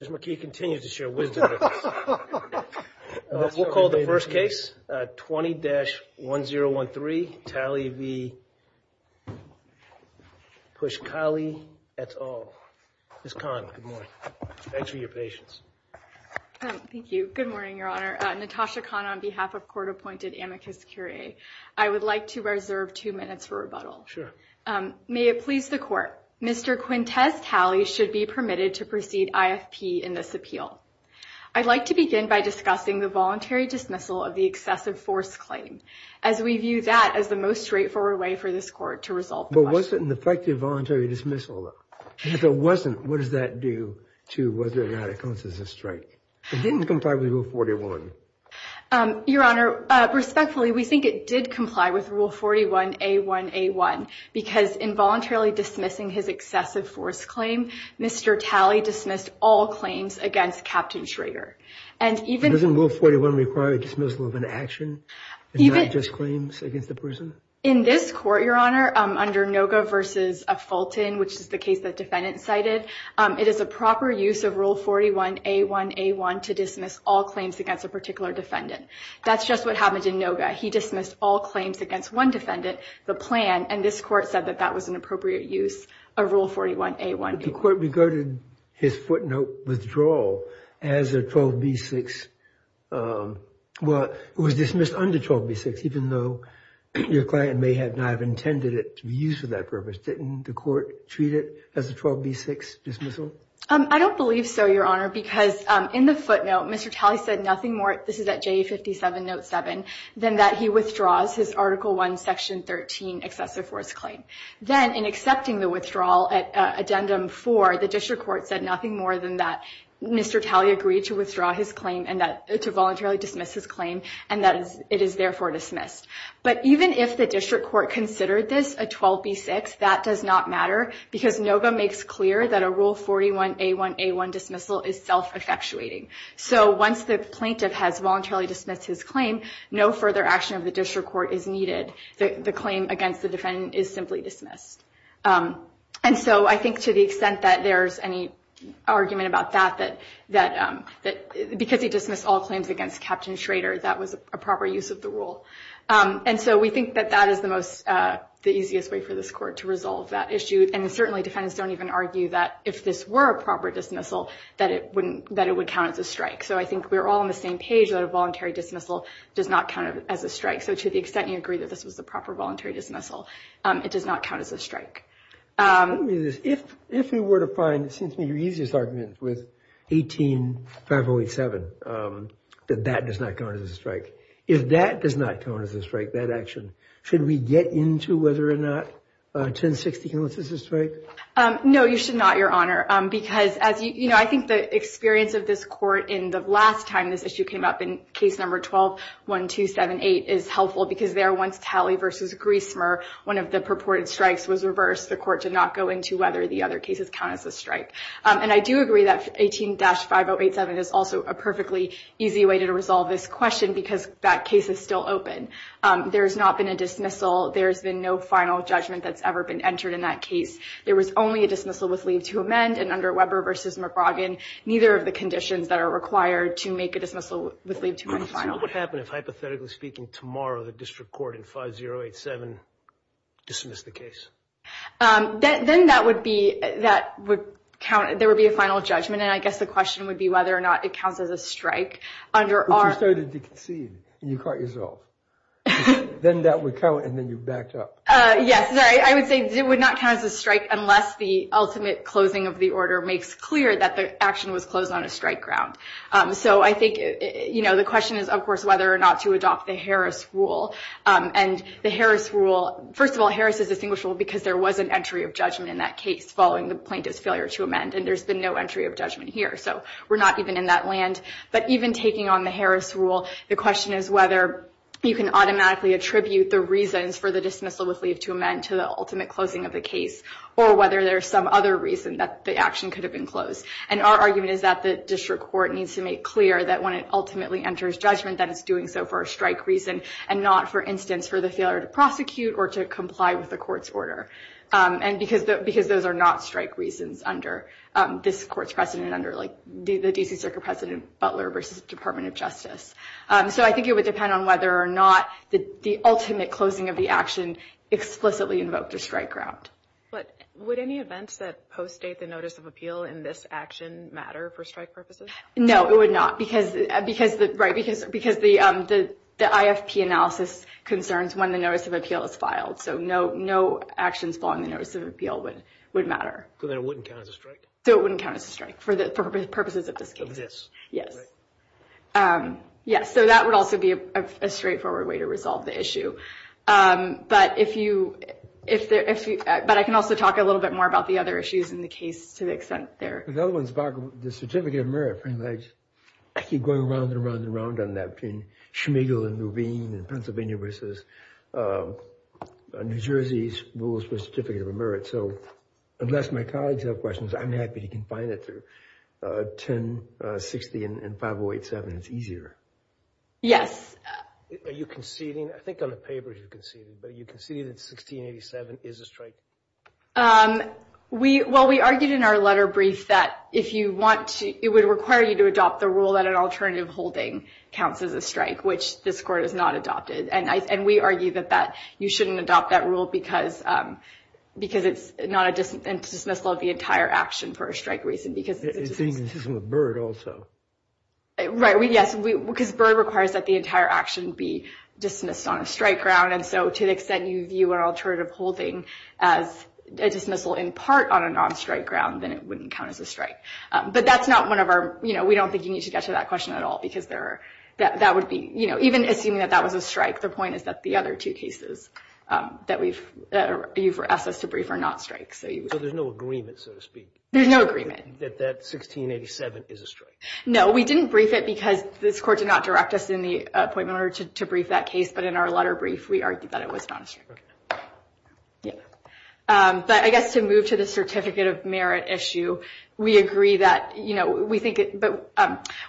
Ms. McKee continues to share wisdom. We'll call the first case 20-1013, Talley v. Pushkalai, that's all. Ms. Kahn, good morning. Thanks for your patience. Thank you. Good morning, Your Honor. Natasha Kahn on behalf of court-appointed amicus curiae. I would like to reserve two minutes for rebuttal. Sure. May it please the court, Mr. Quintez Talley should be permitted to proceed IFP in this appeal. I'd like to begin by discussing the voluntary dismissal of the excessive force claim as we view that as the most straightforward way for this court to resolve the question. But was it an effective voluntary dismissal? If it wasn't, what does that do to whether or not it counts as a strike? It didn't comply with Rule 41. Your Honor, respectfully, we think it did comply with Rule 41A1A1 because involuntarily dismissing his excessive force claim, Mr. Talley dismissed all claims against Captain Schrader. Doesn't Rule 41 require a dismissal of an action and not just claims against the person? In this court, Your Honor, under Noga v. Fulton, which is the case the defendant cited, it is a proper use of Rule 41A1A1 to dismiss all claims against a particular defendant. That's just what happened in Noga. He dismissed all claims against one defendant, the plan, and this court said that that was an appropriate use of Rule 41A1A1. But the court regarded his footnote withdrawal as a 12B6, well, it was dismissed under 12B6, even though your client may not have intended it to be used for that purpose. Didn't the court treat it as a 12B6 dismissal? I don't believe so, Your Honor, because in the footnote, Mr. Talley said nothing more, this is at JA57 Note 7, than that he withdraws his Article I, Section 13 excessive force claim. Then, in accepting the withdrawal at Addendum 4, the district court said nothing more than that Mr. Talley agreed to withdraw his claim and that to voluntarily dismiss his claim and that it is therefore dismissed. But even if the district court considered this a 12B6, that does not matter because Noga makes clear that a Rule 41A1A1 dismissal is self-effectuating. So once the plaintiff has voluntarily dismissed his claim, no further action of the district court is needed. The claim against the defendant is simply dismissed. And so I think to the extent that there's any argument about that, because he dismissed all claims against Captain Schrader, that was a proper use of the rule. And so we think that that is the easiest way for this court to resolve that issue. And certainly defendants don't even argue that if this were a proper dismissal, that it would count as a strike. So I think we're all on the same page that a voluntary dismissal does not count as a strike. So to the extent you agree that this was a proper voluntary dismissal, it does not count as a strike. If we were to find, it seems to me, your easiest argument with 18-5087, that that does not count as a strike. If that does not count as a strike, that action, should we get into whether or not 1060 counts as a strike? No, you should not, Your Honor. Because as you know, I think the experience of this court in the last time this issue came up in case number 12-1278 is helpful. Because there, once tally versus grease smear, one of the purported strikes was reversed. The court did not go into whether the other cases count as a strike. And I do agree that 18-5087 is also a perfectly easy way to resolve this question, because that case is still open. There's not been a dismissal. There's been no final judgment that's ever been entered in that case. There was only a dismissal with leave to amend. And under Weber v. McBroggan, neither of the conditions that are required to make a dismissal with leave to amend final. So what would happen if, hypothetically speaking, tomorrow the district court in 5087 dismissed the case? Then that would be, that would count, there would be a final judgment. And I guess the question would be whether or not it counts as a strike. But you started to concede, and you can't resolve. Then that would count, and then you backed up. Yes, I would say it would not count as a strike unless the ultimate closing of the order makes clear that the action was closed on a strike ground. So I think, you know, the question is, of course, whether or not to adopt the Harris rule. And the Harris rule, first of all, Harris is distinguishable because there was an entry of judgment in that case following the plaintiff's failure to amend. And there's been no entry of judgment here. So we're not even in that land. But even taking on the Harris rule, the question is whether you can automatically attribute the reasons for the dismissal with leave to amend to the ultimate closing of the case, or whether there's some other reason that the action could have been closed. And our argument is that the district court needs to make clear that when it ultimately enters judgment that it's doing so for a strike reason, and not, for instance, for the failure to prosecute or to comply with the court's order. And because those are not strike reasons under this court's precedent, under, like, the D.C. Circuit President Butler versus Department of Justice. So I think it would depend on whether or not the ultimate closing of the action explicitly invoked a strike ground. But would any events that post-date the notice of appeal in this action matter for strike purposes? No, it would not, because the IFP analysis concerns when the notice of appeal is filed. So no actions following the notice of appeal would matter. So then it wouldn't count as a strike? So it wouldn't count as a strike for purposes of this case. Of this. Yes. Yes, so that would also be a straightforward way to resolve the issue. But if you – but I can also talk a little bit more about the other issues in the case to the extent they're – The other one's about the certificate of merit, frankly. I keep going around and around and around on that between Schmeigel and Levine and Pennsylvania versus New Jersey's rules for certificate of merit. So unless my colleagues have questions, I'm happy to confine it to 1060 and 5087. It's easier. Yes. Are you conceding? I think on the paper you conceded, but are you conceding that 1687 is a strike? We – well, we argued in our letter brief that if you want to – it would require you to adopt the rule that an alternative holding counts as a strike, which this Court has not adopted. And we argue that that – you shouldn't adopt that rule because it's not a dismissal of the entire action for a strike reason, because it's a dismissal. You're saying this isn't with Byrd also. Right. Yes, because Byrd requires that the entire action be dismissed on a strike ground. And so to the extent you view an alternative holding as a dismissal in part on a non-strike ground, then it wouldn't count as a strike. But that's not one of our – you know, we don't think you need to get to that question at all, because there are – that would be – you know, even assuming that that was a strike, the point is that the other two cases that we've – you've asked us to brief are not strikes. So there's no agreement, so to speak. There's no agreement. That that 1687 is a strike. No, we didn't brief it because this Court did not direct us in the appointment order to brief that case. But in our letter brief, we argued that it was not a strike. Okay. Yeah. But I guess to move to the certificate of merit issue, we agree that, you know, we think – but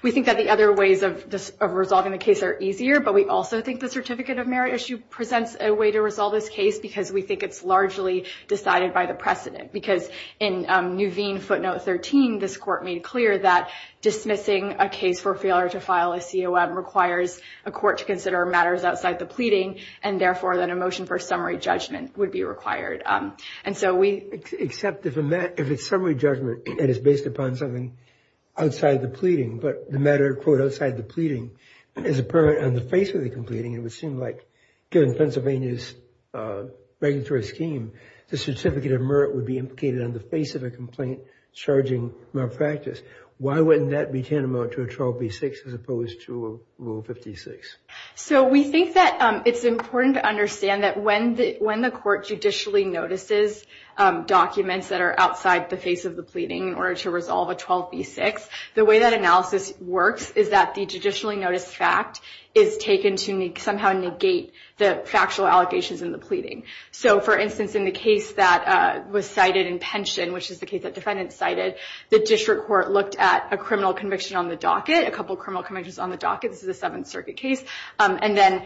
we think that the other ways of resolving the case are easier. But we also think the certificate of merit issue presents a way to resolve this case because we think it's largely decided by the precedent. Because in Nuveen footnote 13, this Court made clear that dismissing a case for failure to file a COM requires a court to consider matters outside the pleading and, therefore, that a motion for summary judgment would be required. And so we – Except if it's summary judgment and it's based upon something outside the pleading, but the matter, quote, outside the pleading is apparent on the face of the completing, it would seem like, given Pennsylvania's regulatory scheme, the certificate of merit would be implicated on the face of a complaint charging malpractice. Why wouldn't that be tantamount to a 12b-6 as opposed to a Rule 56? So we think that it's important to understand that when the – when the Court judicially notices documents that are outside the face of the pleading in order to resolve a 12b-6, the way that analysis works is that the judicially noticed fact is taken to somehow negate the factual allegations in the pleading. So, for instance, in the case that was cited in Pension, which is the case that the defendant cited, the district court looked at a criminal conviction on the docket, a couple criminal convictions on the docket – this is a Seventh Circuit case – and then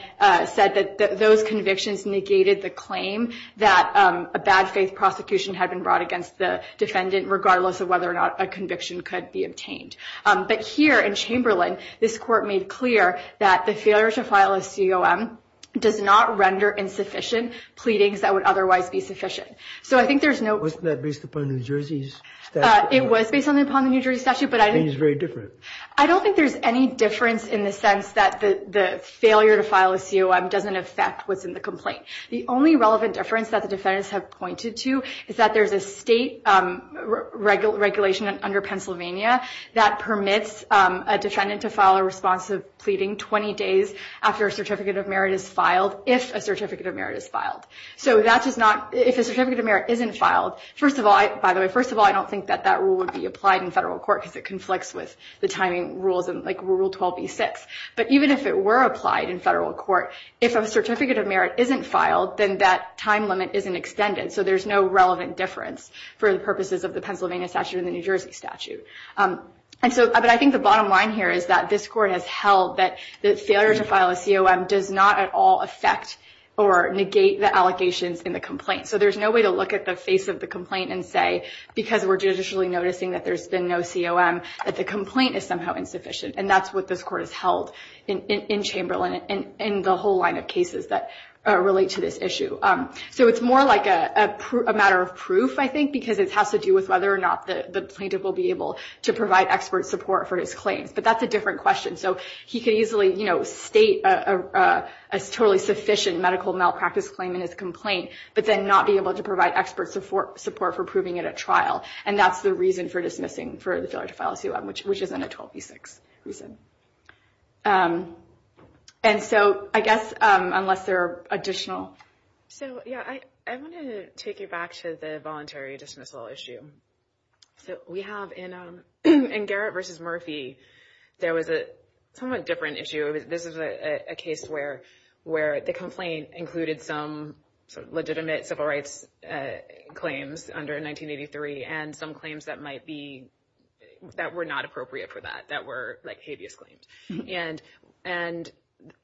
said that those convictions negated the claim that a bad faith prosecution had been brought against the defendant, regardless of whether or not a conviction could be obtained. But here in Chamberlain, this Court made clear that the failure to file a COM does not render insufficient pleadings that would otherwise be sufficient. So I think there's no – Wasn't that based upon New Jersey's statute? It was based upon the New Jersey statute, but I – I think it's very different. I don't think there's any difference in the sense that the failure to file a COM doesn't affect what's in the complaint. The only relevant difference that the defendants have pointed to is that there's a state regulation under Pennsylvania that permits a defendant to file a response of pleading 20 days after a Certificate of Merit is filed, if a Certificate of Merit is filed. So that does not – if a Certificate of Merit isn't filed – first of all, by the way, first of all, I don't think that that rule would be applied in federal court because it conflicts with the timing rules and, like, Rule 12b-6. But even if it were applied in federal court, if a Certificate of Merit isn't filed, then that time limit isn't extended. So there's no relevant difference for the purposes of the Pennsylvania statute and the New Jersey statute. And so – but I think the bottom line here is that this Court has held that the failure to file a COM does not at all affect or negate the allegations in the complaint. So there's no way to look at the face of the complaint and say, because we're judicially noticing that there's been no COM, that the complaint is somehow insufficient. And that's what this Court has held in Chamberlain and the whole line of cases that relate to this issue. So it's more like a matter of proof, I think, because it has to do with whether or not the plaintiff will be able to provide expert support for his claims. But that's a different question. So he could easily, you know, state a totally sufficient medical malpractice claim in his complaint, but then not be able to provide expert support for proving it at trial. And that's the reason for dismissing – for the failure to file a COM, which isn't a 12b-6 reason. And so, I guess, unless there are additional... So, yeah, I want to take you back to the voluntary dismissal issue. So we have in Garrett v. Murphy, there was a somewhat different issue. This is a case where the complaint included some legitimate civil rights claims under 1983 and some claims that might be – that were not appropriate for that, that were, like, habeas claims. And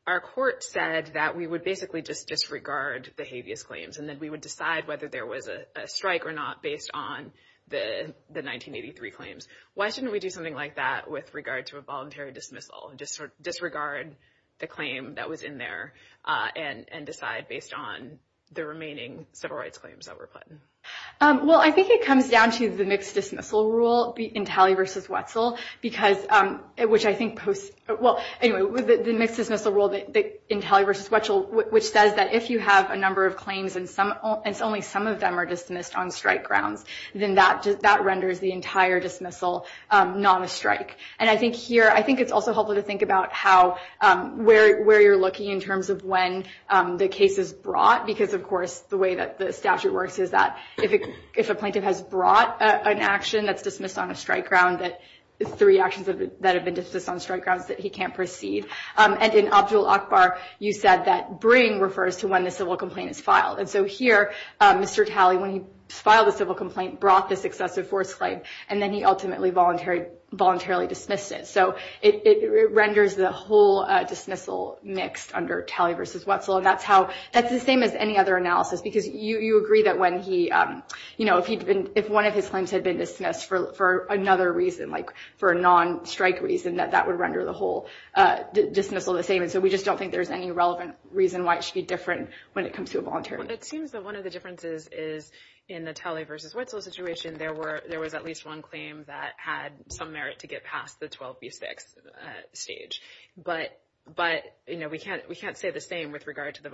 our court said that we would basically just disregard the habeas claims, and that we would decide whether there was a strike or not based on the 1983 claims. Why shouldn't we do something like that with regard to a voluntary dismissal, just sort of disregard the claim that was in there and decide based on the remaining civil rights claims that were put in? Well, I think it comes down to the mixed dismissal rule in Talley v. Wetzel, because – which I think – well, anyway, the mixed dismissal rule in Talley v. Wetzel, which says that if you have a number of claims and only some of them are dismissed on strike grounds, then that renders the entire dismissal not a strike. And I think here – I think it's also helpful to think about how – where you're looking in terms of when the case is brought, because, of course, the way that the statute works is that if a plaintiff has brought an action that's dismissed on a strike ground that – three actions that have been dismissed on strike grounds that he can't proceed. And in Abdul-Akbar, you said that bring refers to when the civil complaint is filed. And so here, Mr. Talley, when he filed the civil complaint, brought this excessive force claim, and then he ultimately voluntarily dismissed it. So it renders the whole dismissal mixed under Talley v. Wetzel. And that's how – that's the same as any other analysis, because you agree that when he – if one of his claims had been dismissed for another reason, like for a non-strike reason, that that would render the whole dismissal the same. And so we just don't think there's any relevant reason why it should be different when it comes to a voluntary. Well, it seems that one of the differences is in the Talley v. Wetzel situation, there was at least one claim that had some merit to get past the 12B6 stage. But, you know, we can't say the same with regard to the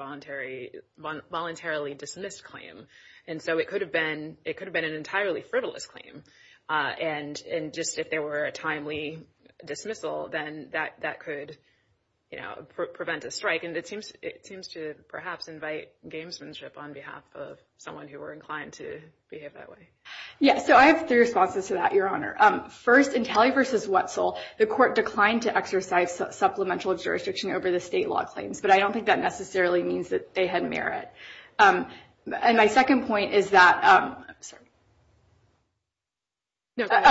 voluntarily dismissed claim. And so it could have been an entirely frivolous claim. And just if there were a timely dismissal, then that could, you know, prevent a strike. And it seems to perhaps invite gamesmanship on behalf of someone who were inclined to behave that way. Yes, so I have three responses to that, Your Honor. First, in Talley v. Wetzel, the court declined to exercise supplemental jurisdiction over the state law claims. But I don't think that necessarily means that they had merit. And my second point is that – I'm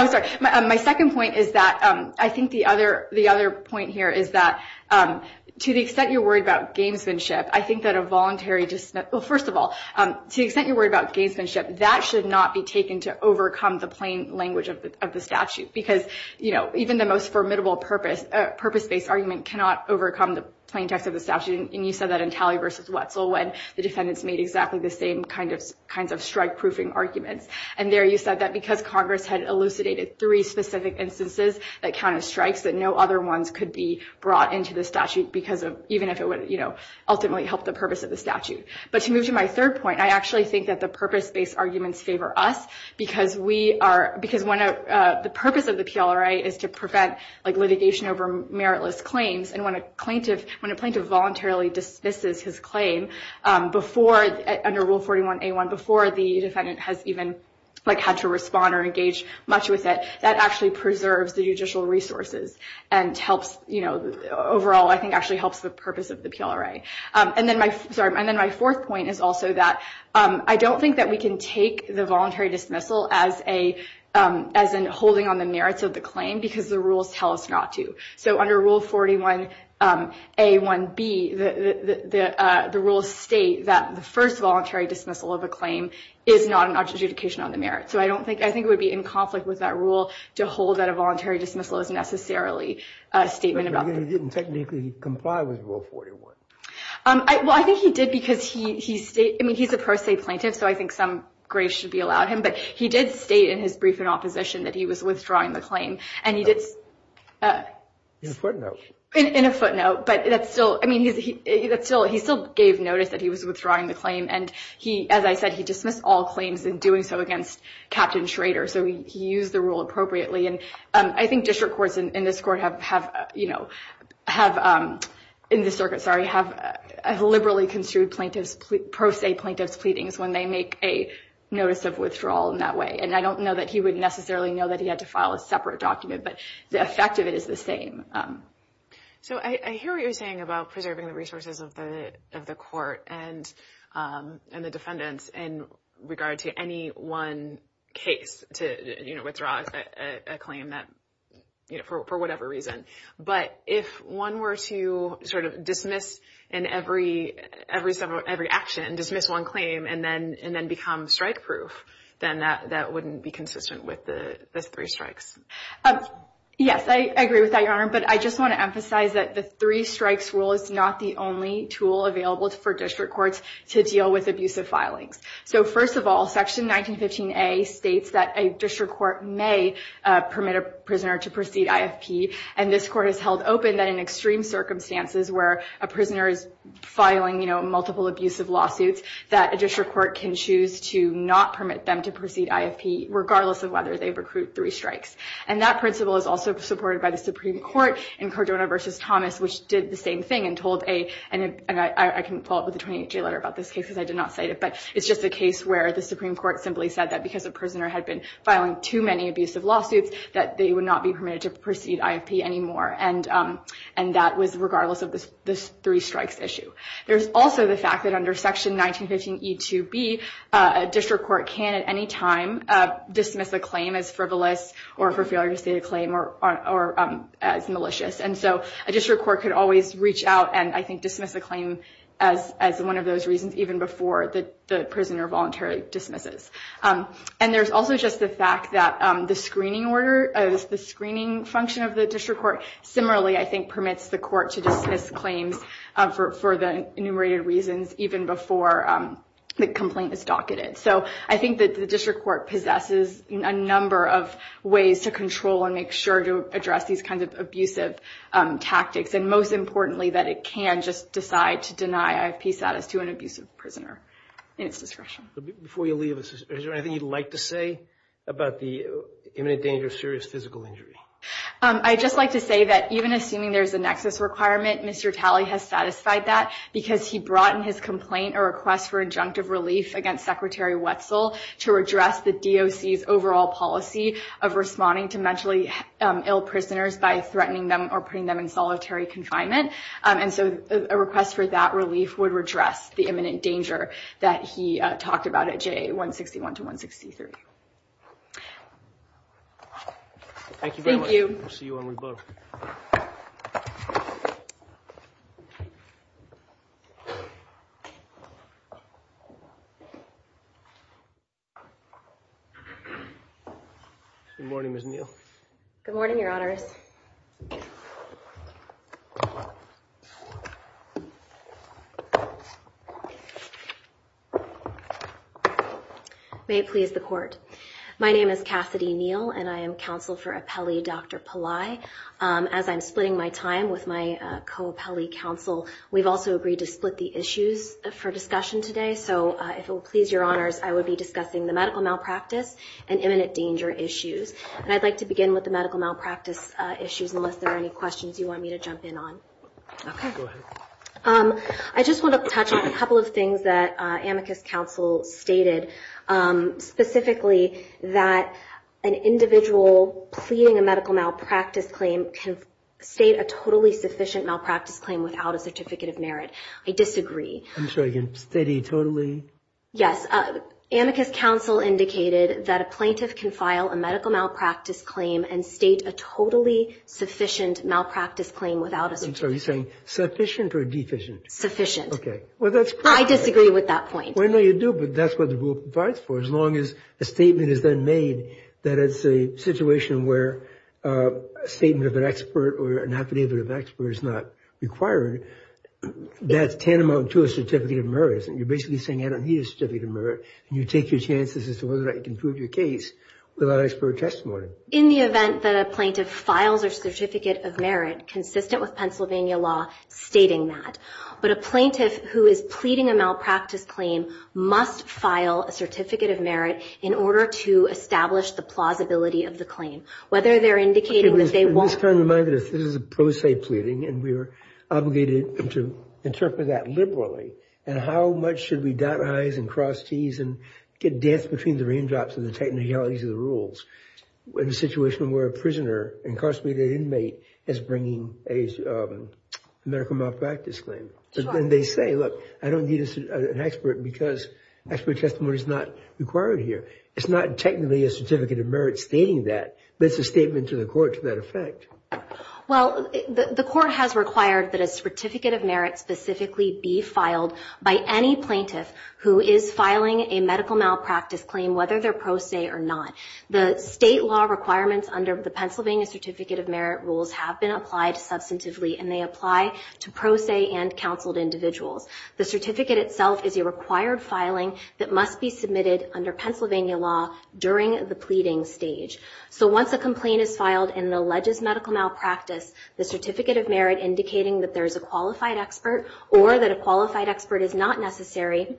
sorry. My second point is that I think the other point here is that to the extent you're worried about gamesmanship, I think that a voluntary – well, first of all, to the extent you're worried about gamesmanship, that should not be taken to overcome the plain language of the statute. Because, you know, even the most formidable purpose-based argument cannot overcome the plain text of the statute. And you said that in Talley v. Wetzel when the defendants made exactly the same kinds of strike-proofing arguments. And there you said that because Congress had elucidated three specific instances that counted strikes, that no other ones could be brought into the statute because of – even if it would, you know, ultimately help the purpose of the statute. But to move to my third point, I actually think that the purpose-based arguments favor us because we are – because when a – the purpose of the PLRA is to prevent, like, litigation over meritless claims. And when a plaintiff voluntarily dismisses his claim before – under Rule 41a1, before the defendant has even, like, had to respond or engage much with it, that actually preserves the judicial resources and helps, you know – overall, I think, actually helps the purpose of the PLRA. And then my – sorry. And then my fourth point is also that I don't think that we can take the voluntary dismissal as a – as in holding on the merits of the claim because the rules tell us not to. So under Rule 41a1b, the rules state that the first voluntary dismissal of a claim is not an adjudication on the merit. So I don't think – I think it would be in conflict with that rule to hold that a voluntary dismissal is necessarily a statement about – Well, I think he did because he – I mean, he's a pro se plaintiff, so I think some grace should be allowed him. But he did state in his brief in opposition that he was withdrawing the claim. And he did – In a footnote. In a footnote. But that's still – I mean, that's still – he still gave notice that he was withdrawing the claim. And he – as I said, he dismissed all claims in doing so against Captain Schrader. So he used the rule appropriately. And I think district courts in this court have – you know, have – in this circuit, sorry – have liberally construed plaintiffs – pro se plaintiffs' pleadings when they make a notice of withdrawal in that way. And I don't know that he would necessarily know that he had to file a separate document. But the effect of it is the same. So I hear what you're saying about preserving the resources of the court and the defendants in regard to any one case to, you know, withdraw a claim that – you know, for whatever reason. But if one were to sort of dismiss in every – every action and dismiss one claim and then become strike-proof, then that wouldn't be consistent with the three strikes. Yes, I agree with that, Your Honor. But I just want to emphasize that the three strikes rule is not the only tool available for district courts to deal with abusive filings. So first of all, Section 1915A states that a district court may permit a prisoner to proceed IFP. And this court has held open that in extreme circumstances where a prisoner is filing, you know, multiple abusive lawsuits, that a district court can choose to not permit them to proceed IFP, regardless of whether they recruit three strikes. And that principle is also supported by the Supreme Court in Cardona v. Thomas, which did the same thing and told a – and I can follow up with a 28-J letter about this case because I did not cite it. But it's just a case where the Supreme Court simply said that because a prisoner had been filing too many abusive lawsuits, that they would not be permitted to proceed IFP anymore. And that was regardless of the three strikes issue. There's also the fact that under Section 1915E2B, a district court can at any time dismiss a claim as frivolous or for failure to state a claim or as malicious. And so a district court could always reach out and, I think, dismiss a claim as one of those reasons even before the prisoner voluntarily dismisses. And there's also just the fact that the screening order, the screening function of the district court, similarly, I think, permits the court to dismiss claims for the enumerated reasons even before the complaint is docketed. So I think that the district court possesses a number of ways to control and make sure to address these kinds of abusive tactics. And most importantly, that it can just decide to deny IFP status to an abusive prisoner in its discretion. Before you leave, is there anything you'd like to say about the imminent danger of serious physical injury? I'd just like to say that even assuming there's a nexus requirement, Mr. Talley has satisfied that because he brought in his complaint a request for injunctive relief against Secretary Wetzel to address the DOC's overall policy of responding to mentally ill prisoners by threatening them or putting them in solitary confinement. And so a request for that relief would redress the imminent danger that he talked about at JA 161 to 163. Thank you very much. We'll see you when we vote. Good morning, Ms. Neal. Good morning, Your Honors. May it please the court. My name is Cassidy Neal, and I am counsel for appellee Dr. Pillai. As I'm splitting my time with my co-appellee counsel, we've also agreed to split the issues for discussion today. So if it will please Your Honors, I will be discussing the medical malpractice and imminent danger issues. And I'd like to begin with the medical malpractice issues, unless there are any questions you want me to jump in on. Okay. Go ahead. I just want to touch on a couple of things that amicus counsel stated, specifically that an individual pleading a medical malpractice claim can state a totally sufficient malpractice claim without a certificate of merit. I disagree. I'm sorry, again, stating totally? Yes. Amicus counsel indicated that a plaintiff can file a medical malpractice claim and state a totally sufficient malpractice claim without a certificate of merit. I'm sorry, you're saying sufficient or deficient? Sufficient. Okay. I disagree with that point. I know you do, but that's what the rule provides for. As long as a statement is then made that it's a situation where a statement of an expert or an affidavit of an expert is not required, that's tantamount to a certificate of merit. You're basically saying I don't need a certificate of merit, and you take your chances as to whether or not you can prove your case without expert testimony. In the event that a plaintiff files a certificate of merit consistent with Pennsylvania law stating that, but a plaintiff who is pleading a malpractice claim must file a certificate of merit in order to establish the plausibility of the claim. Whether they're indicating that they won't. This is a pro se pleading, and we are obligated to interpret that liberally, and how much should we dot I's and cross T's and dance between the raindrops and the technicalities of the rules? In a situation where a prisoner, incarcerated inmate, is bringing a medical malpractice claim. And they say, look, I don't need an expert because expert testimony is not required here. It's not technically a certificate of merit stating that, but it's a statement to the court to that effect. Well, the court has required that a certificate of merit specifically be filed by any plaintiff who is filing a medical malpractice claim, whether they're pro se or not. The state law requirements under the Pennsylvania Certificate of Merit rules have been applied substantively, and they apply to pro se and counseled individuals. The certificate itself is a required filing that must be submitted under Pennsylvania law during the pleading stage. So once a complaint is filed and alleges medical malpractice, the certificate of merit indicating that there's a qualified expert or that a qualified expert is not necessary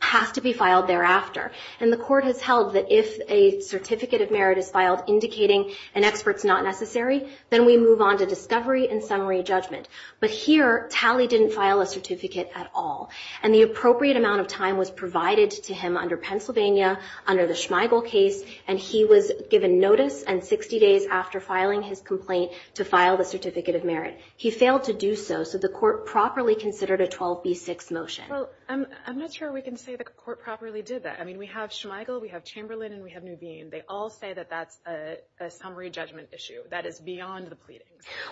has to be filed thereafter. And the court has held that if a certificate of merit is filed indicating an expert's not necessary, then we move on to discovery and summary judgment. But here, Talley didn't file a certificate at all. And the appropriate amount of time was provided to him under Pennsylvania under the Schmeigel case, and he was given notice and 60 days after filing his complaint to file the certificate of merit. He failed to do so, so the court properly considered a 12B6 motion. Well, I'm not sure we can say the court properly did that. I mean, we have Schmeigel, we have Chamberlain, and we have Nuveen. They all say that that's a summary judgment issue. That is beyond the pleading.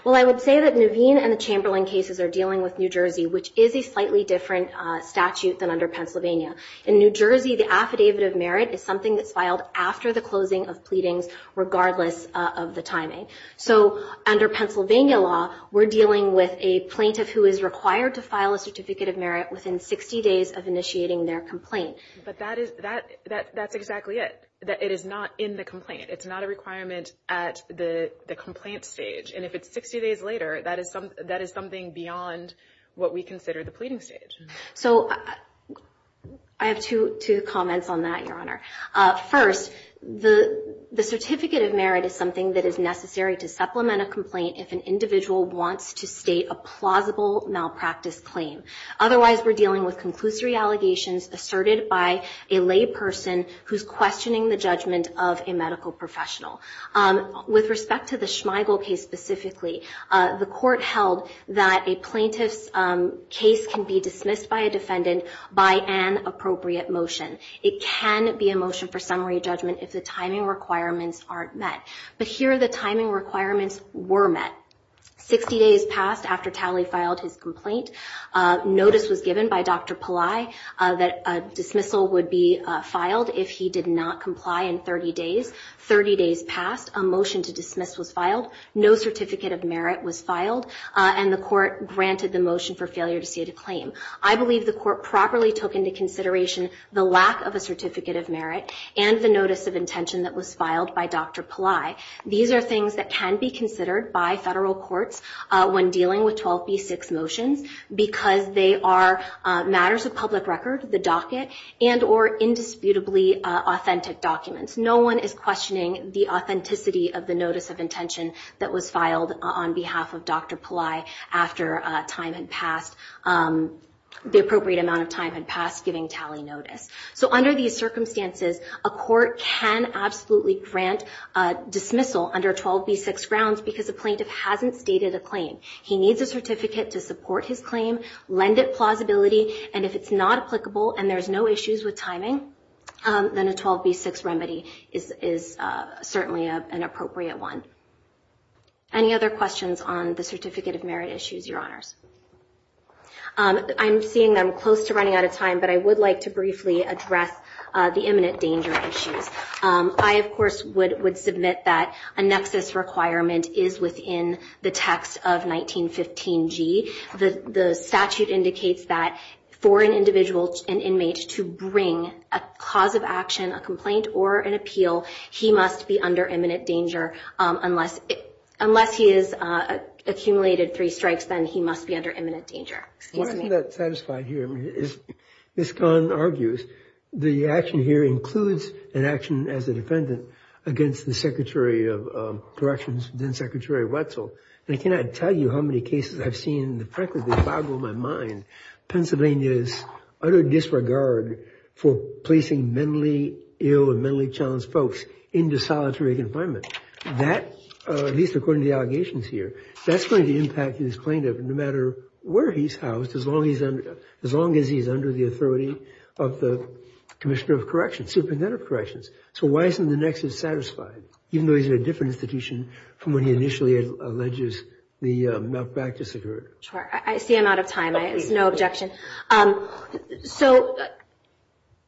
Well, I would say that Nuveen and the Chamberlain cases are dealing with New Jersey, which is a slightly different statute than under Pennsylvania. In New Jersey, the affidavit of merit is something that's filed after the closing of pleadings, regardless of the timing. So under Pennsylvania law, we're dealing with a plaintiff who is required to file a certificate of merit within 60 days of initiating their complaint. But that's exactly it. It is not in the complaint. It's not a requirement at the complaint stage. And if it's 60 days later, that is something beyond what we consider the pleading stage. So I have two comments on that, Your Honor. First, the certificate of merit is something that is necessary to supplement a complaint if an individual wants to state a plausible malpractice claim. Otherwise, we're dealing with conclusory allegations asserted by a lay person who's questioning the judgment of a medical professional. With respect to the Schmeigel case specifically, the court held that a plaintiff's case can be dismissed by a defendant by an appropriate motion. It can be a motion for summary judgment if the timing requirements aren't met. But here the timing requirements were met. Sixty days passed after Talley filed his complaint. Notice was given by Dr. Pillai that a dismissal would be filed if he did not comply in 30 days. Thirty days passed. A motion to dismiss was filed. No certificate of merit was filed. And the court granted the motion for failure to state a claim. I believe the court properly took into consideration the lack of a certificate of merit and the notice of intention that was filed by Dr. Pillai. These are things that can be considered by federal courts when dealing with 12b-6 motions because they are matters of public record, the docket, and or indisputably authentic documents. No one is questioning the authenticity of the notice of intention that was filed on behalf of Dr. Pillai after the appropriate amount of time had passed giving Talley notice. So under these circumstances, a court can absolutely grant dismissal under 12b-6 grounds because a plaintiff hasn't stated a claim. He needs a certificate to support his claim, lend it plausibility, and if it's not applicable and there's no issues with timing, then a 12b-6 remedy is certainly an appropriate one. Any other questions on the certificate of merit issues, Your Honors? I'm seeing that I'm close to running out of time, but I would like to briefly address the imminent danger issues. I, of course, would submit that a nexus requirement is within the text of 1915G. The statute indicates that for an individual, an inmate, to bring a cause of action, a complaint, or an appeal, he must be under imminent danger. Unless he has accumulated three strikes, then he must be under imminent danger. Excuse me. I'm not satisfied here. Miscon argues the action here includes an action as a defendant against the Secretary of Corrections, then-Secretary Wetzel, and I cannot tell you how many cases I've seen. Frankly, they boggle my mind. Pennsylvania's utter disregard for placing mentally ill and mentally challenged folks into solitary confinement, that, at least according to the allegations here, that's going to impact his plaintiff, no matter where he's housed, as long as he's under the authority of the Commissioner of Corrections, Superintendent of Corrections. So why isn't the nexus satisfied, even though he's in a different institution from when he initially alleges the malpractice occurred? Sure. I see I'm out of time. There's no objection. So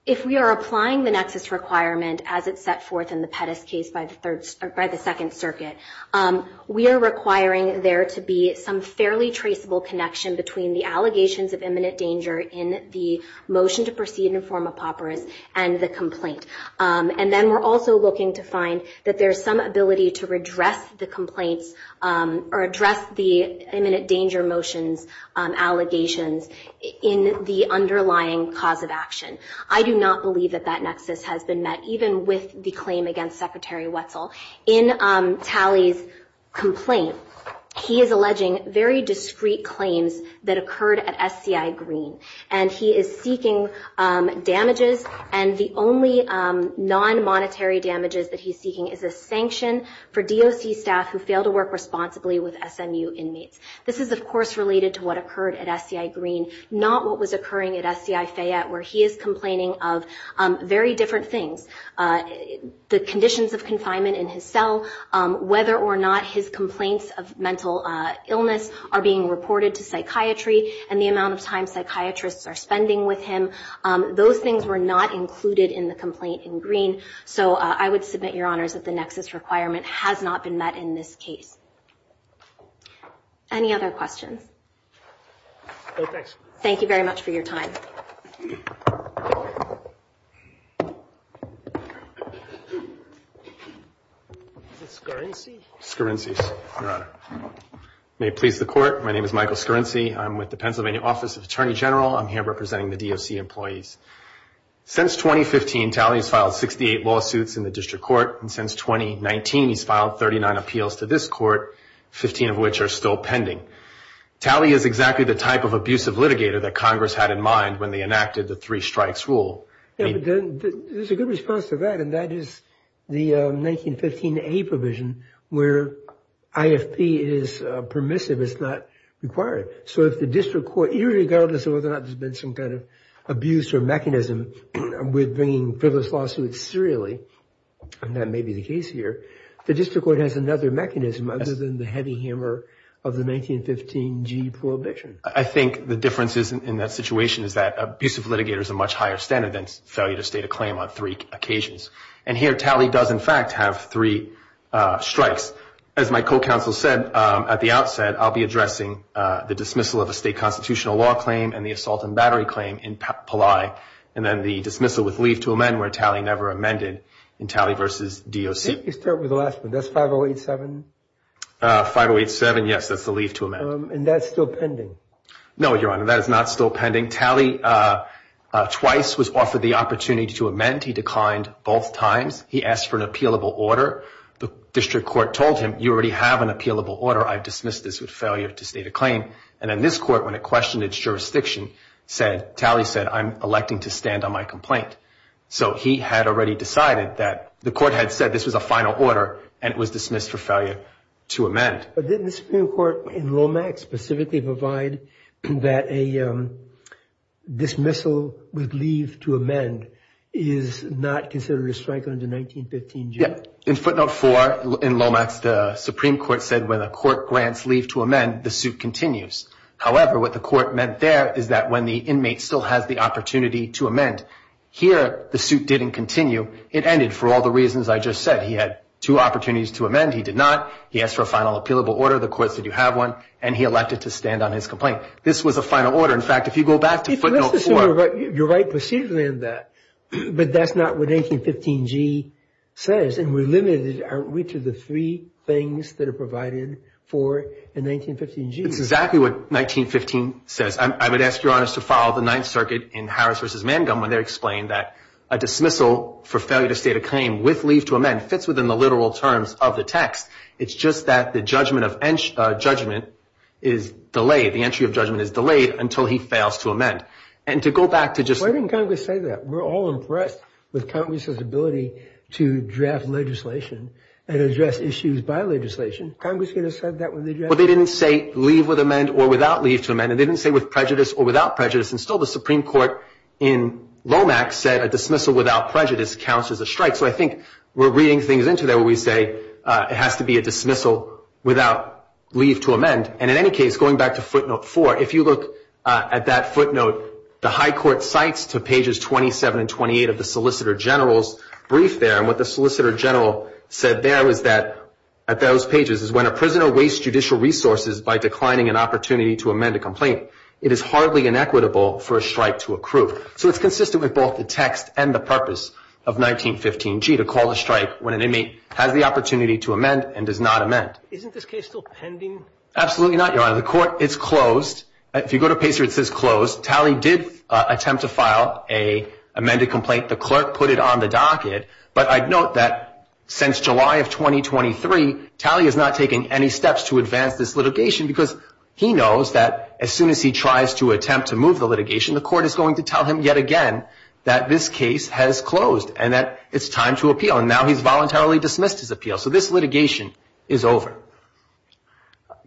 if we are applying the nexus requirement as it's set forth in the Pettis case by the Second Circuit, we are requiring there to be some fairly traceable connection between the allegations of imminent danger in the motion to proceed in the form of papyrus and the complaint. And then we're also looking to find that there's some ability to redress the complaints or address the imminent danger motions allegations in the underlying cause of action. I do not believe that that nexus has been met, even with the claim against Secretary Wetzel. In Talley's complaint, he is alleging very discrete claims that occurred at SCI Green, and he is seeking damages, and the only non-monetary damages that he's seeking is a sanction for DOC staff who fail to work responsibly with SMU inmates. This is, of course, related to what occurred at SCI Green, not what was occurring at SCI Fayette, where he is complaining of very different things, the conditions of confinement in his cell, whether or not his complaints of mental illness are being reported to psychiatry and the amount of time psychiatrists are spending with him. Those things were not included in the complaint in Green. So I would submit, Your Honors, that the nexus requirement has not been met in this case. Any other questions? Thank you very much for your time. May it please the Court. My name is Michael Scarinci. I'm with the Pennsylvania Office of the Attorney General. I'm here representing the DOC employees. Since 2015, Talley has filed 68 lawsuits in the district court, and since 2019 he's filed 39 appeals to this court, 15 of which are still pending. Talley is exactly the type of abusive litigator that Congress had in mind when they enacted the three strikes rule. There's a good response to that, and that is the 1915A provision where IFP is permissive. It's not required. So if the district court, irregardless of whether or not there's been some kind of abuse or mechanism with bringing frivolous lawsuits serially, and that may be the case here, the district court has another mechanism other than the heavy hammer of the 1915G prohibition. I think the difference in that situation is that abusive litigator is a much higher standard than failure to state a claim on three occasions. And here Talley does, in fact, have three strikes. As my co-counsel said at the outset, I'll be addressing the dismissal of a state constitutional law claim and the assault and battery claim in Pillai, and then the dismissal with leave to amend, where Talley never amended in Talley v. DOC. Let me start with the last one. That's 5087? 5087, yes, that's the leave to amend. And that's still pending? No, Your Honor, that is not still pending. Talley twice was offered the opportunity to amend. He declined both times. He asked for an appealable order. The district court told him, you already have an appealable order. I dismiss this with failure to state a claim. And then this court, when it questioned its jurisdiction, said, Talley said, I'm electing to stand on my complaint. So he had already decided that the court had said this was a final order and it was dismissed for failure to amend. But didn't the Supreme Court in Lomax specifically provide that a dismissal with leave to amend is not considered a strike under 1915G? Yes, in footnote 4 in Lomax, the Supreme Court said when a court grants leave to amend, the suit continues. However, what the court meant there is that when the inmate still has the opportunity to amend, here the suit didn't continue. It ended for all the reasons I just said. He had two opportunities to amend. He did not. He asked for a final appealable order. The court said, you have one. And he elected to stand on his complaint. This was a final order. In fact, if you go back to footnote 4. You're right. Proceed with that. But that's not what 1915G says. And we're limited, aren't we, to the three things that are provided for in 1915G. It's exactly what 1915 says. I would ask Your Honor to follow the Ninth Circuit in Harris v. Mangum when they explained that a dismissal for failure to state a claim with leave to amend fits within the literal terms of the text. It's just that the judgment is delayed. The entry of judgment is delayed until he fails to amend. And to go back to just Why didn't Congress say that? We're all impressed with Congress's ability to draft legislation and address issues by legislation. Congress could have said that when they drafted it. Well, they didn't say leave with amend or without leave to amend. And they didn't say with prejudice or without prejudice. And still the Supreme Court in Lomax said a dismissal without prejudice counts as a strike. So I think we're reading things into there where we say it has to be a dismissal without leave to amend. And in any case, going back to footnote 4, if you look at that footnote, the High Court cites to pages 27 and 28 of the Solicitor General's brief there. And what the Solicitor General said there was that at those pages is when a prisoner wastes judicial resources by declining an opportunity to amend a complaint, it is hardly inequitable for a strike to accrue. So it's consistent with both the text and the purpose of 1915G, to call a strike when an inmate has the opportunity to amend and does not amend. Isn't this case still pending? Absolutely not, Your Honor. The court is closed. If you go to Pacer, it says closed. Talley did attempt to file an amended complaint. The clerk put it on the docket. But I'd note that since July of 2023, Talley is not taking any steps to advance this litigation because he knows that as soon as he tries to attempt to move the litigation, the court is going to tell him yet again that this case has closed and that it's time to appeal. And now he's voluntarily dismissed his appeal. So this litigation is over.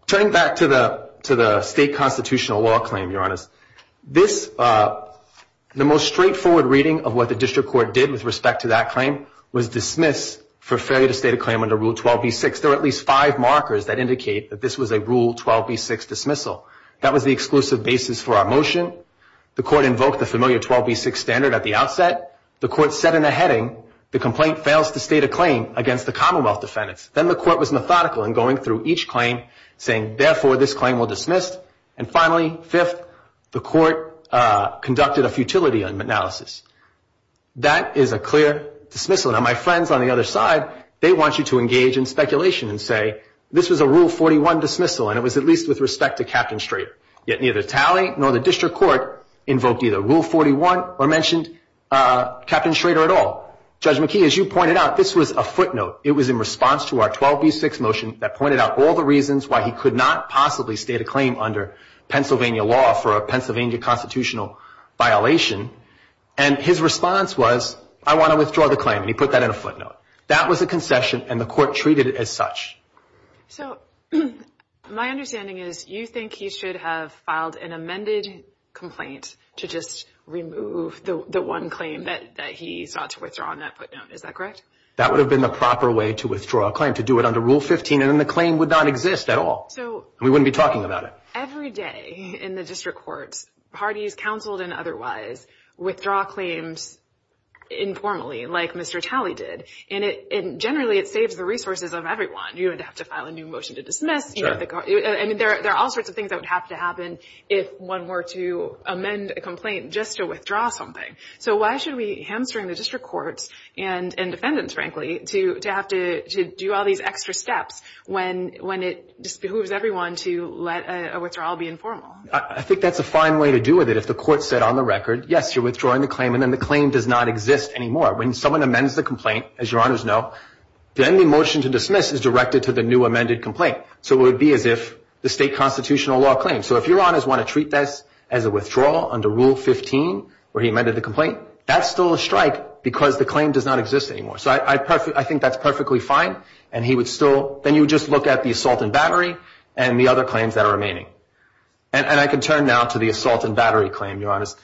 Turning back to the state constitutional law claim, Your Honor, the most straightforward reading of what the district court did with respect to that claim was dismiss for failure to state a claim under Rule 12b-6. There are at least five markers that indicate that this was a Rule 12b-6 dismissal. That was the exclusive basis for our motion. The court invoked the familiar 12b-6 standard at the outset. The court set in a heading the complaint fails to state a claim against the Commonwealth defendants. Then the court was methodical in going through each claim, saying, therefore, this claim will dismiss. And finally, fifth, the court conducted a futility analysis. That is a clear dismissal. Now, my friends on the other side, they want you to engage in speculation and say, this was a Rule 41 dismissal, and it was at least with respect to Captain Strader. Yet neither tally nor the district court invoked either Rule 41 or mentioned Captain Strader at all. Judge McKee, as you pointed out, this was a footnote. It was in response to our 12b-6 motion that pointed out all the reasons why he could not possibly state a claim under Pennsylvania law for a Pennsylvania constitutional violation. And his response was, I want to withdraw the claim, and he put that in a footnote. That was a concession, and the court treated it as such. So my understanding is you think he should have filed an amended complaint to just remove the one claim that he sought to withdraw in that footnote. Is that correct? That would have been the proper way to withdraw a claim, to do it under Rule 15, and then the claim would not exist at all. We wouldn't be talking about it. Every day in the district courts, parties, counseled and otherwise, withdraw claims informally like Mr. Talley did. And generally it saves the resources of everyone. You don't have to file a new motion to dismiss. There are all sorts of things that would have to happen if one were to amend a complaint just to withdraw something. So why should we hamstring the district courts and defendants, frankly, to have to do all these extra steps when it disbehooves everyone to let a withdrawal be informal? I think that's a fine way to do it. If the court said on the record, yes, you're withdrawing the claim, and then the claim does not exist anymore. When someone amends the complaint, as Your Honors know, then the motion to dismiss is directed to the new amended complaint. So it would be as if the state constitutional law claims. So if Your Honors want to treat this as a withdrawal under Rule 15 where he amended the complaint, that's still a strike because the claim does not exist anymore. So I think that's perfectly fine, and he would still – then you would just look at the assault and battery and the other claims that are remaining. And I can turn now to the assault and battery claim, Your Honors.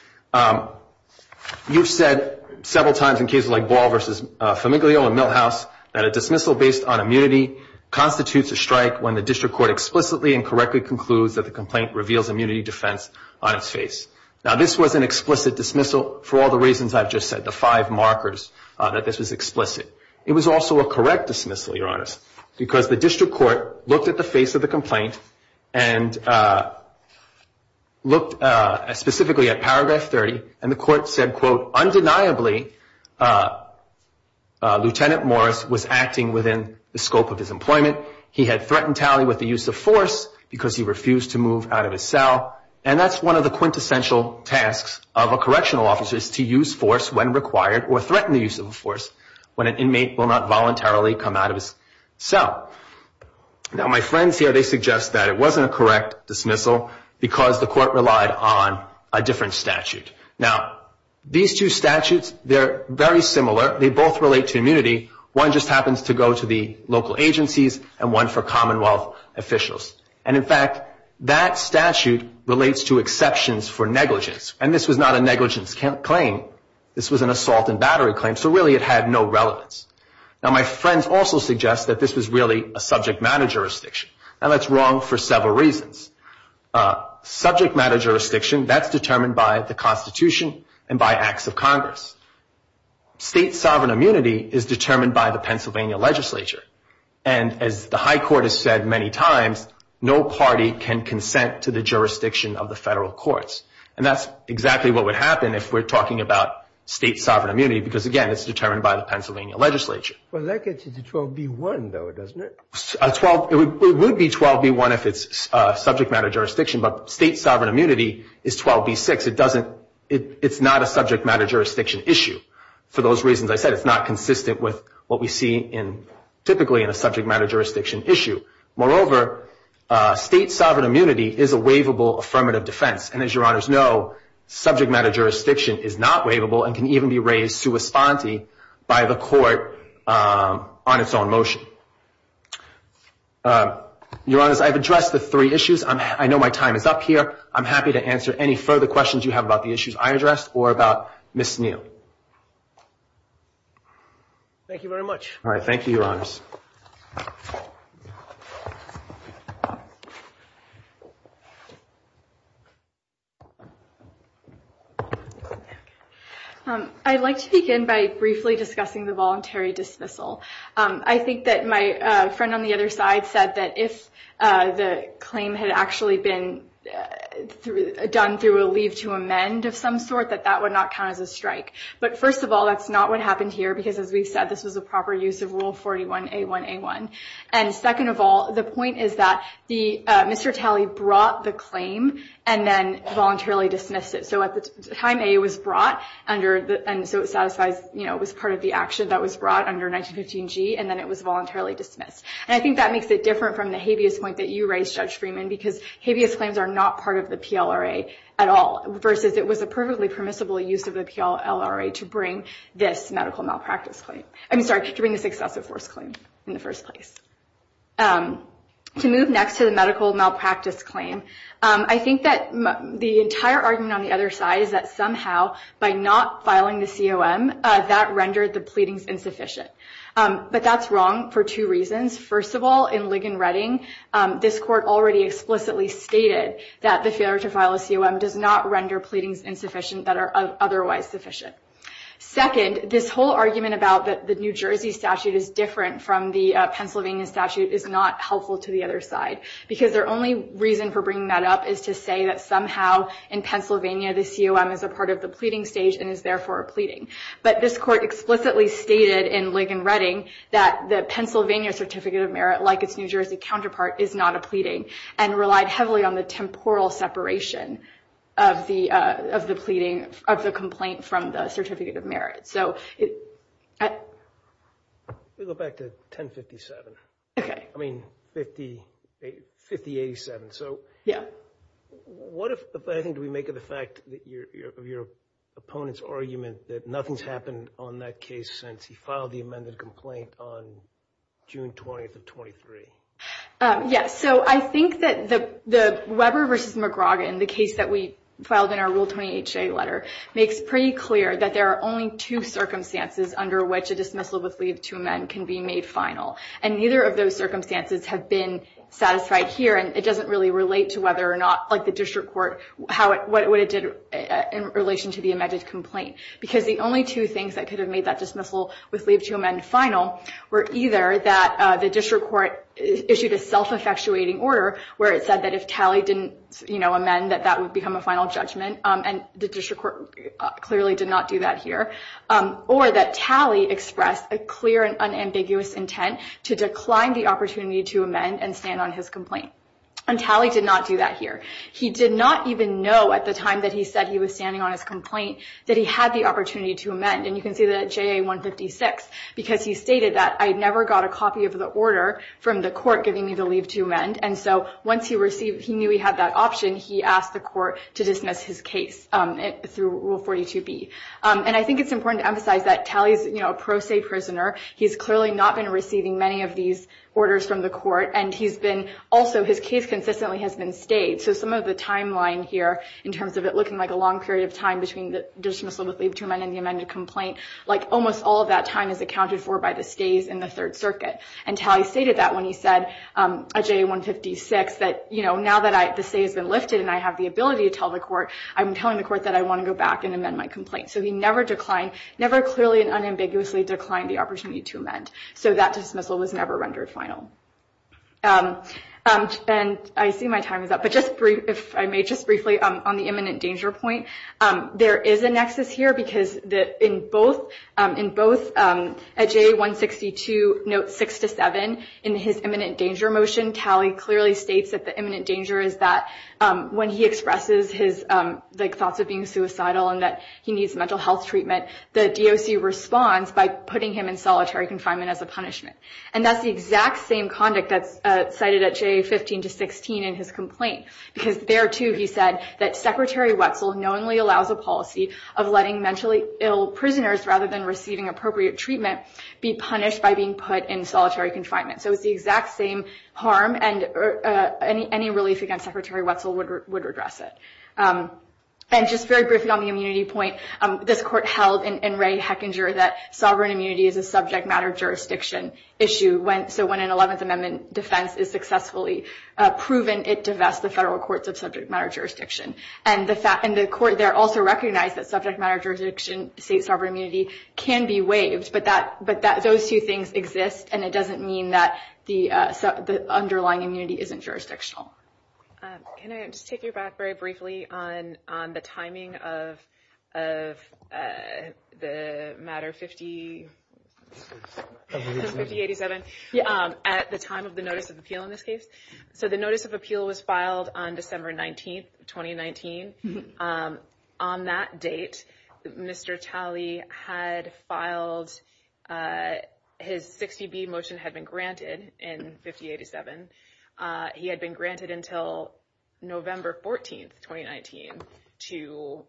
You've said several times in cases like Ball v. Famiglio and Milhouse that a dismissal based on immunity constitutes a strike when the district court explicitly and correctly concludes that the complaint reveals immunity defense on its face. Now, this was an explicit dismissal for all the reasons I've just said, the five markers that this was explicit. It was also a correct dismissal, Your Honors, because the district court looked at the face of the complaint and looked specifically at Paragraph 30, and the court said, quote, undeniably, Lieutenant Morris was acting within the scope of his employment. He had threatened Talley with the use of force because he refused to move out of his cell. And that's one of the quintessential tasks of a correctional officer is to use force when required or threaten the use of force when an inmate will not voluntarily come out of his cell. Now, my friends here, they suggest that it wasn't a correct dismissal because the court relied on a different statute. Now, these two statutes, they're very similar. They both relate to immunity. One just happens to go to the local agencies and one for Commonwealth officials. And, in fact, that statute relates to exceptions for negligence, and this was not a negligence claim. This was an assault and battery claim, so really it had no relevance. Now, my friends also suggest that this was really a subject matter jurisdiction. Now, that's wrong for several reasons. Subject matter jurisdiction, that's determined by the Constitution and by acts of Congress. State sovereign immunity is determined by the Pennsylvania legislature, and as the high court has said many times, no party can consent to the jurisdiction of the federal courts. And that's exactly what would happen if we're talking about state sovereign immunity because, again, it's determined by the Pennsylvania legislature. Well, that gets you to 12b-1, though, doesn't it? It would be 12b-1 if it's subject matter jurisdiction, but state sovereign immunity is 12b-6. It's not a subject matter jurisdiction issue. For those reasons I said, it's not consistent with what we see typically in a subject matter jurisdiction issue. Moreover, state sovereign immunity is a waivable affirmative defense, and as Your Honors know, subject matter jurisdiction is not waivable and can even be raised sua sponte by the court on its own motion. Your Honors, I've addressed the three issues. I know my time is up here. I'm happy to answer any further questions you have about the issues I addressed or about Ms. Neal. Thank you very much. All right, thank you, Your Honors. I'd like to begin by briefly discussing the voluntary dismissal. I think that my friend on the other side said that if the claim had actually been done through a leave to amend of some sort, that that would not count as a strike. But first of all, that's not what happened here because, as we've said, this was a proper use of Rule 41A1A1. And second of all, the point is that Mr. Talley brought the claim and then voluntarily dismissed it. So at the time A was brought, and so it satisfies, you know, it was part of the action that was brought under 1915G, and then it was voluntarily dismissed. And I think that makes it different from the habeas point that you raised, Judge Freeman, because habeas claims are not part of the PLRA at all, versus it was a perfectly permissible use of the PLRA to bring this medical malpractice claim. I'm sorry, to bring this excessive force claim in the first place. To move next to the medical malpractice claim, I think that the entire argument on the other side is that somehow, by not filing the COM, that rendered the pleadings insufficient. But that's wrong for two reasons. First of all, in Ligon-Redding, this court already explicitly stated that the failure to file a COM does not render pleadings insufficient that are otherwise sufficient. Second, this whole argument about the New Jersey statute is different from the Pennsylvania statute is not helpful to the other side, because their only reason for bringing that up is to say that somehow, in Pennsylvania, the COM is a part of the pleading stage and is therefore a pleading. But this court explicitly stated in Ligon-Redding that the Pennsylvania Certificate of Merit, like its New Jersey counterpart, is not a pleading, and relied heavily on the temporal separation of the pleading of the complaint from the Certificate of Merit. Let me go back to 1057. Okay. I mean, 5087. Yeah. What, I think, do we make of the fact of your opponent's argument that nothing's happened on that case since he filed the amended complaint on June 20th of 23? Yes. So I think that the Weber v. McGrogan, the case that we filed in our Rule 28-J letter, makes pretty clear that there are only two circumstances under which a dismissal with leave to amend can be made final. And neither of those circumstances have been satisfied here, and it doesn't really relate to whether or not, like the district court, what it did in relation to the amended complaint. Because the only two things that could have made that dismissal with leave to amend final were either that the district court issued a self-effectuating order where it said that if Talley didn't amend, that that would become a final judgment, and the district court clearly did not do that here, or that Talley expressed a clear and unambiguous intent to decline the opportunity to amend and stand on his complaint. And Talley did not do that here. He did not even know at the time that he said he was standing on his complaint that he had the opportunity to amend. And you can see that at JA-156, because he stated that, I never got a copy of the order from the court giving me the leave to amend. And so once he knew he had that option, he asked the court to dismiss his case through Rule 42-B. And I think it's important to emphasize that Talley's, you know, a pro se prisoner. He's clearly not been receiving many of these orders from the court, and he's been also, his case consistently has been stayed. So some of the timeline here in terms of it looking like a long period of time between the dismissal with leave to amend and the amended complaint, like almost all of that time is accounted for by the stays in the Third Circuit. And Talley stated that when he said at JA-156 that, you know, now that the stay has been lifted and I have the ability to tell the court, I'm telling the court that I want to go back and amend my complaint. So he never declined, never clearly and unambiguously declined the opportunity to amend. So that dismissal was never rendered final. And I see my time is up, but just brief, if I may just briefly on the imminent danger point. There is a nexus here because in both, in both at JA-162, note six to seven in his imminent danger motion, Talley clearly states that the imminent danger is that when he expresses his thoughts of being suicidal and that he needs mental health treatment, the DOC responds by putting him in solitary confinement as a punishment. And that's the exact same conduct that's cited at JA-15 to 16 in his complaint, because there too he said that Secretary Wetzel knowingly allows a policy of letting mentally ill prisoners, rather than receiving appropriate treatment, be punished by being put in solitary confinement. So it's the exact same harm and any relief against Secretary Wetzel would redress it. And just very briefly on the immunity point, this court held in Ray Hechinger that sovereign immunity is a subject matter jurisdiction issue, so when an 11th Amendment defense is successfully proven, it divests the federal courts of subject matter jurisdiction. And the court there also recognized that subject matter jurisdiction, state sovereign immunity, can be waived, but those two things exist and it doesn't mean that the underlying immunity isn't jurisdictional. Can I just take you back very briefly on the timing of the matter 5087, at the time of the notice of appeal in this case? So the notice of appeal was filed on December 19th, 2019. On that date, Mr. Talley had filed, his 60B motion had been granted in 5087. He had been granted until November 14th, 2019, to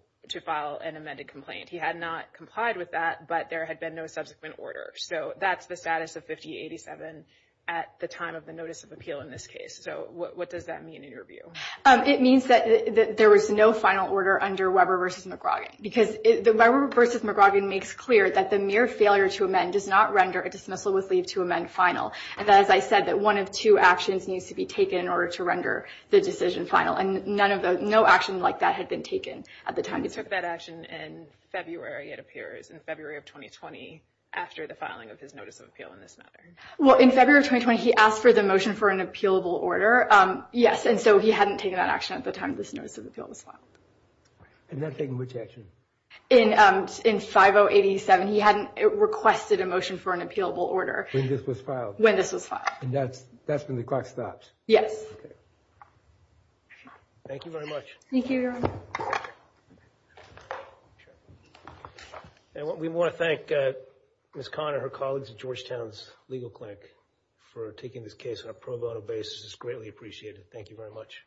file an amended complaint. He had not complied with that, but there had been no subsequent order. So that's the status of 5087 at the time of the notice of appeal in this case. So what does that mean in your view? It means that there was no final order under Weber v. McGrogan, because Weber v. McGrogan makes clear that the mere failure to amend does not render a dismissal with leave to amend final. And as I said, that one of two actions needs to be taken in order to render the decision final, and no action like that had been taken at the time. He took that action in February, it appears, in February of 2020, after the filing of his notice of appeal in this matter. Well, in February of 2020, he asked for the motion for an appealable order, yes, and so he hadn't taken that action at the time this notice of appeal was filed. And not taking which action? In 5087, he hadn't requested a motion for an appealable order. When this was filed? When this was filed. And that's when the clock stopped? Yes. Thank you very much. Thank you, Your Honor. We want to thank Ms. Kahn and her colleagues at Georgetown's legal clinic for taking this case on a pro bono basis. This is greatly appreciated. Thank you very much.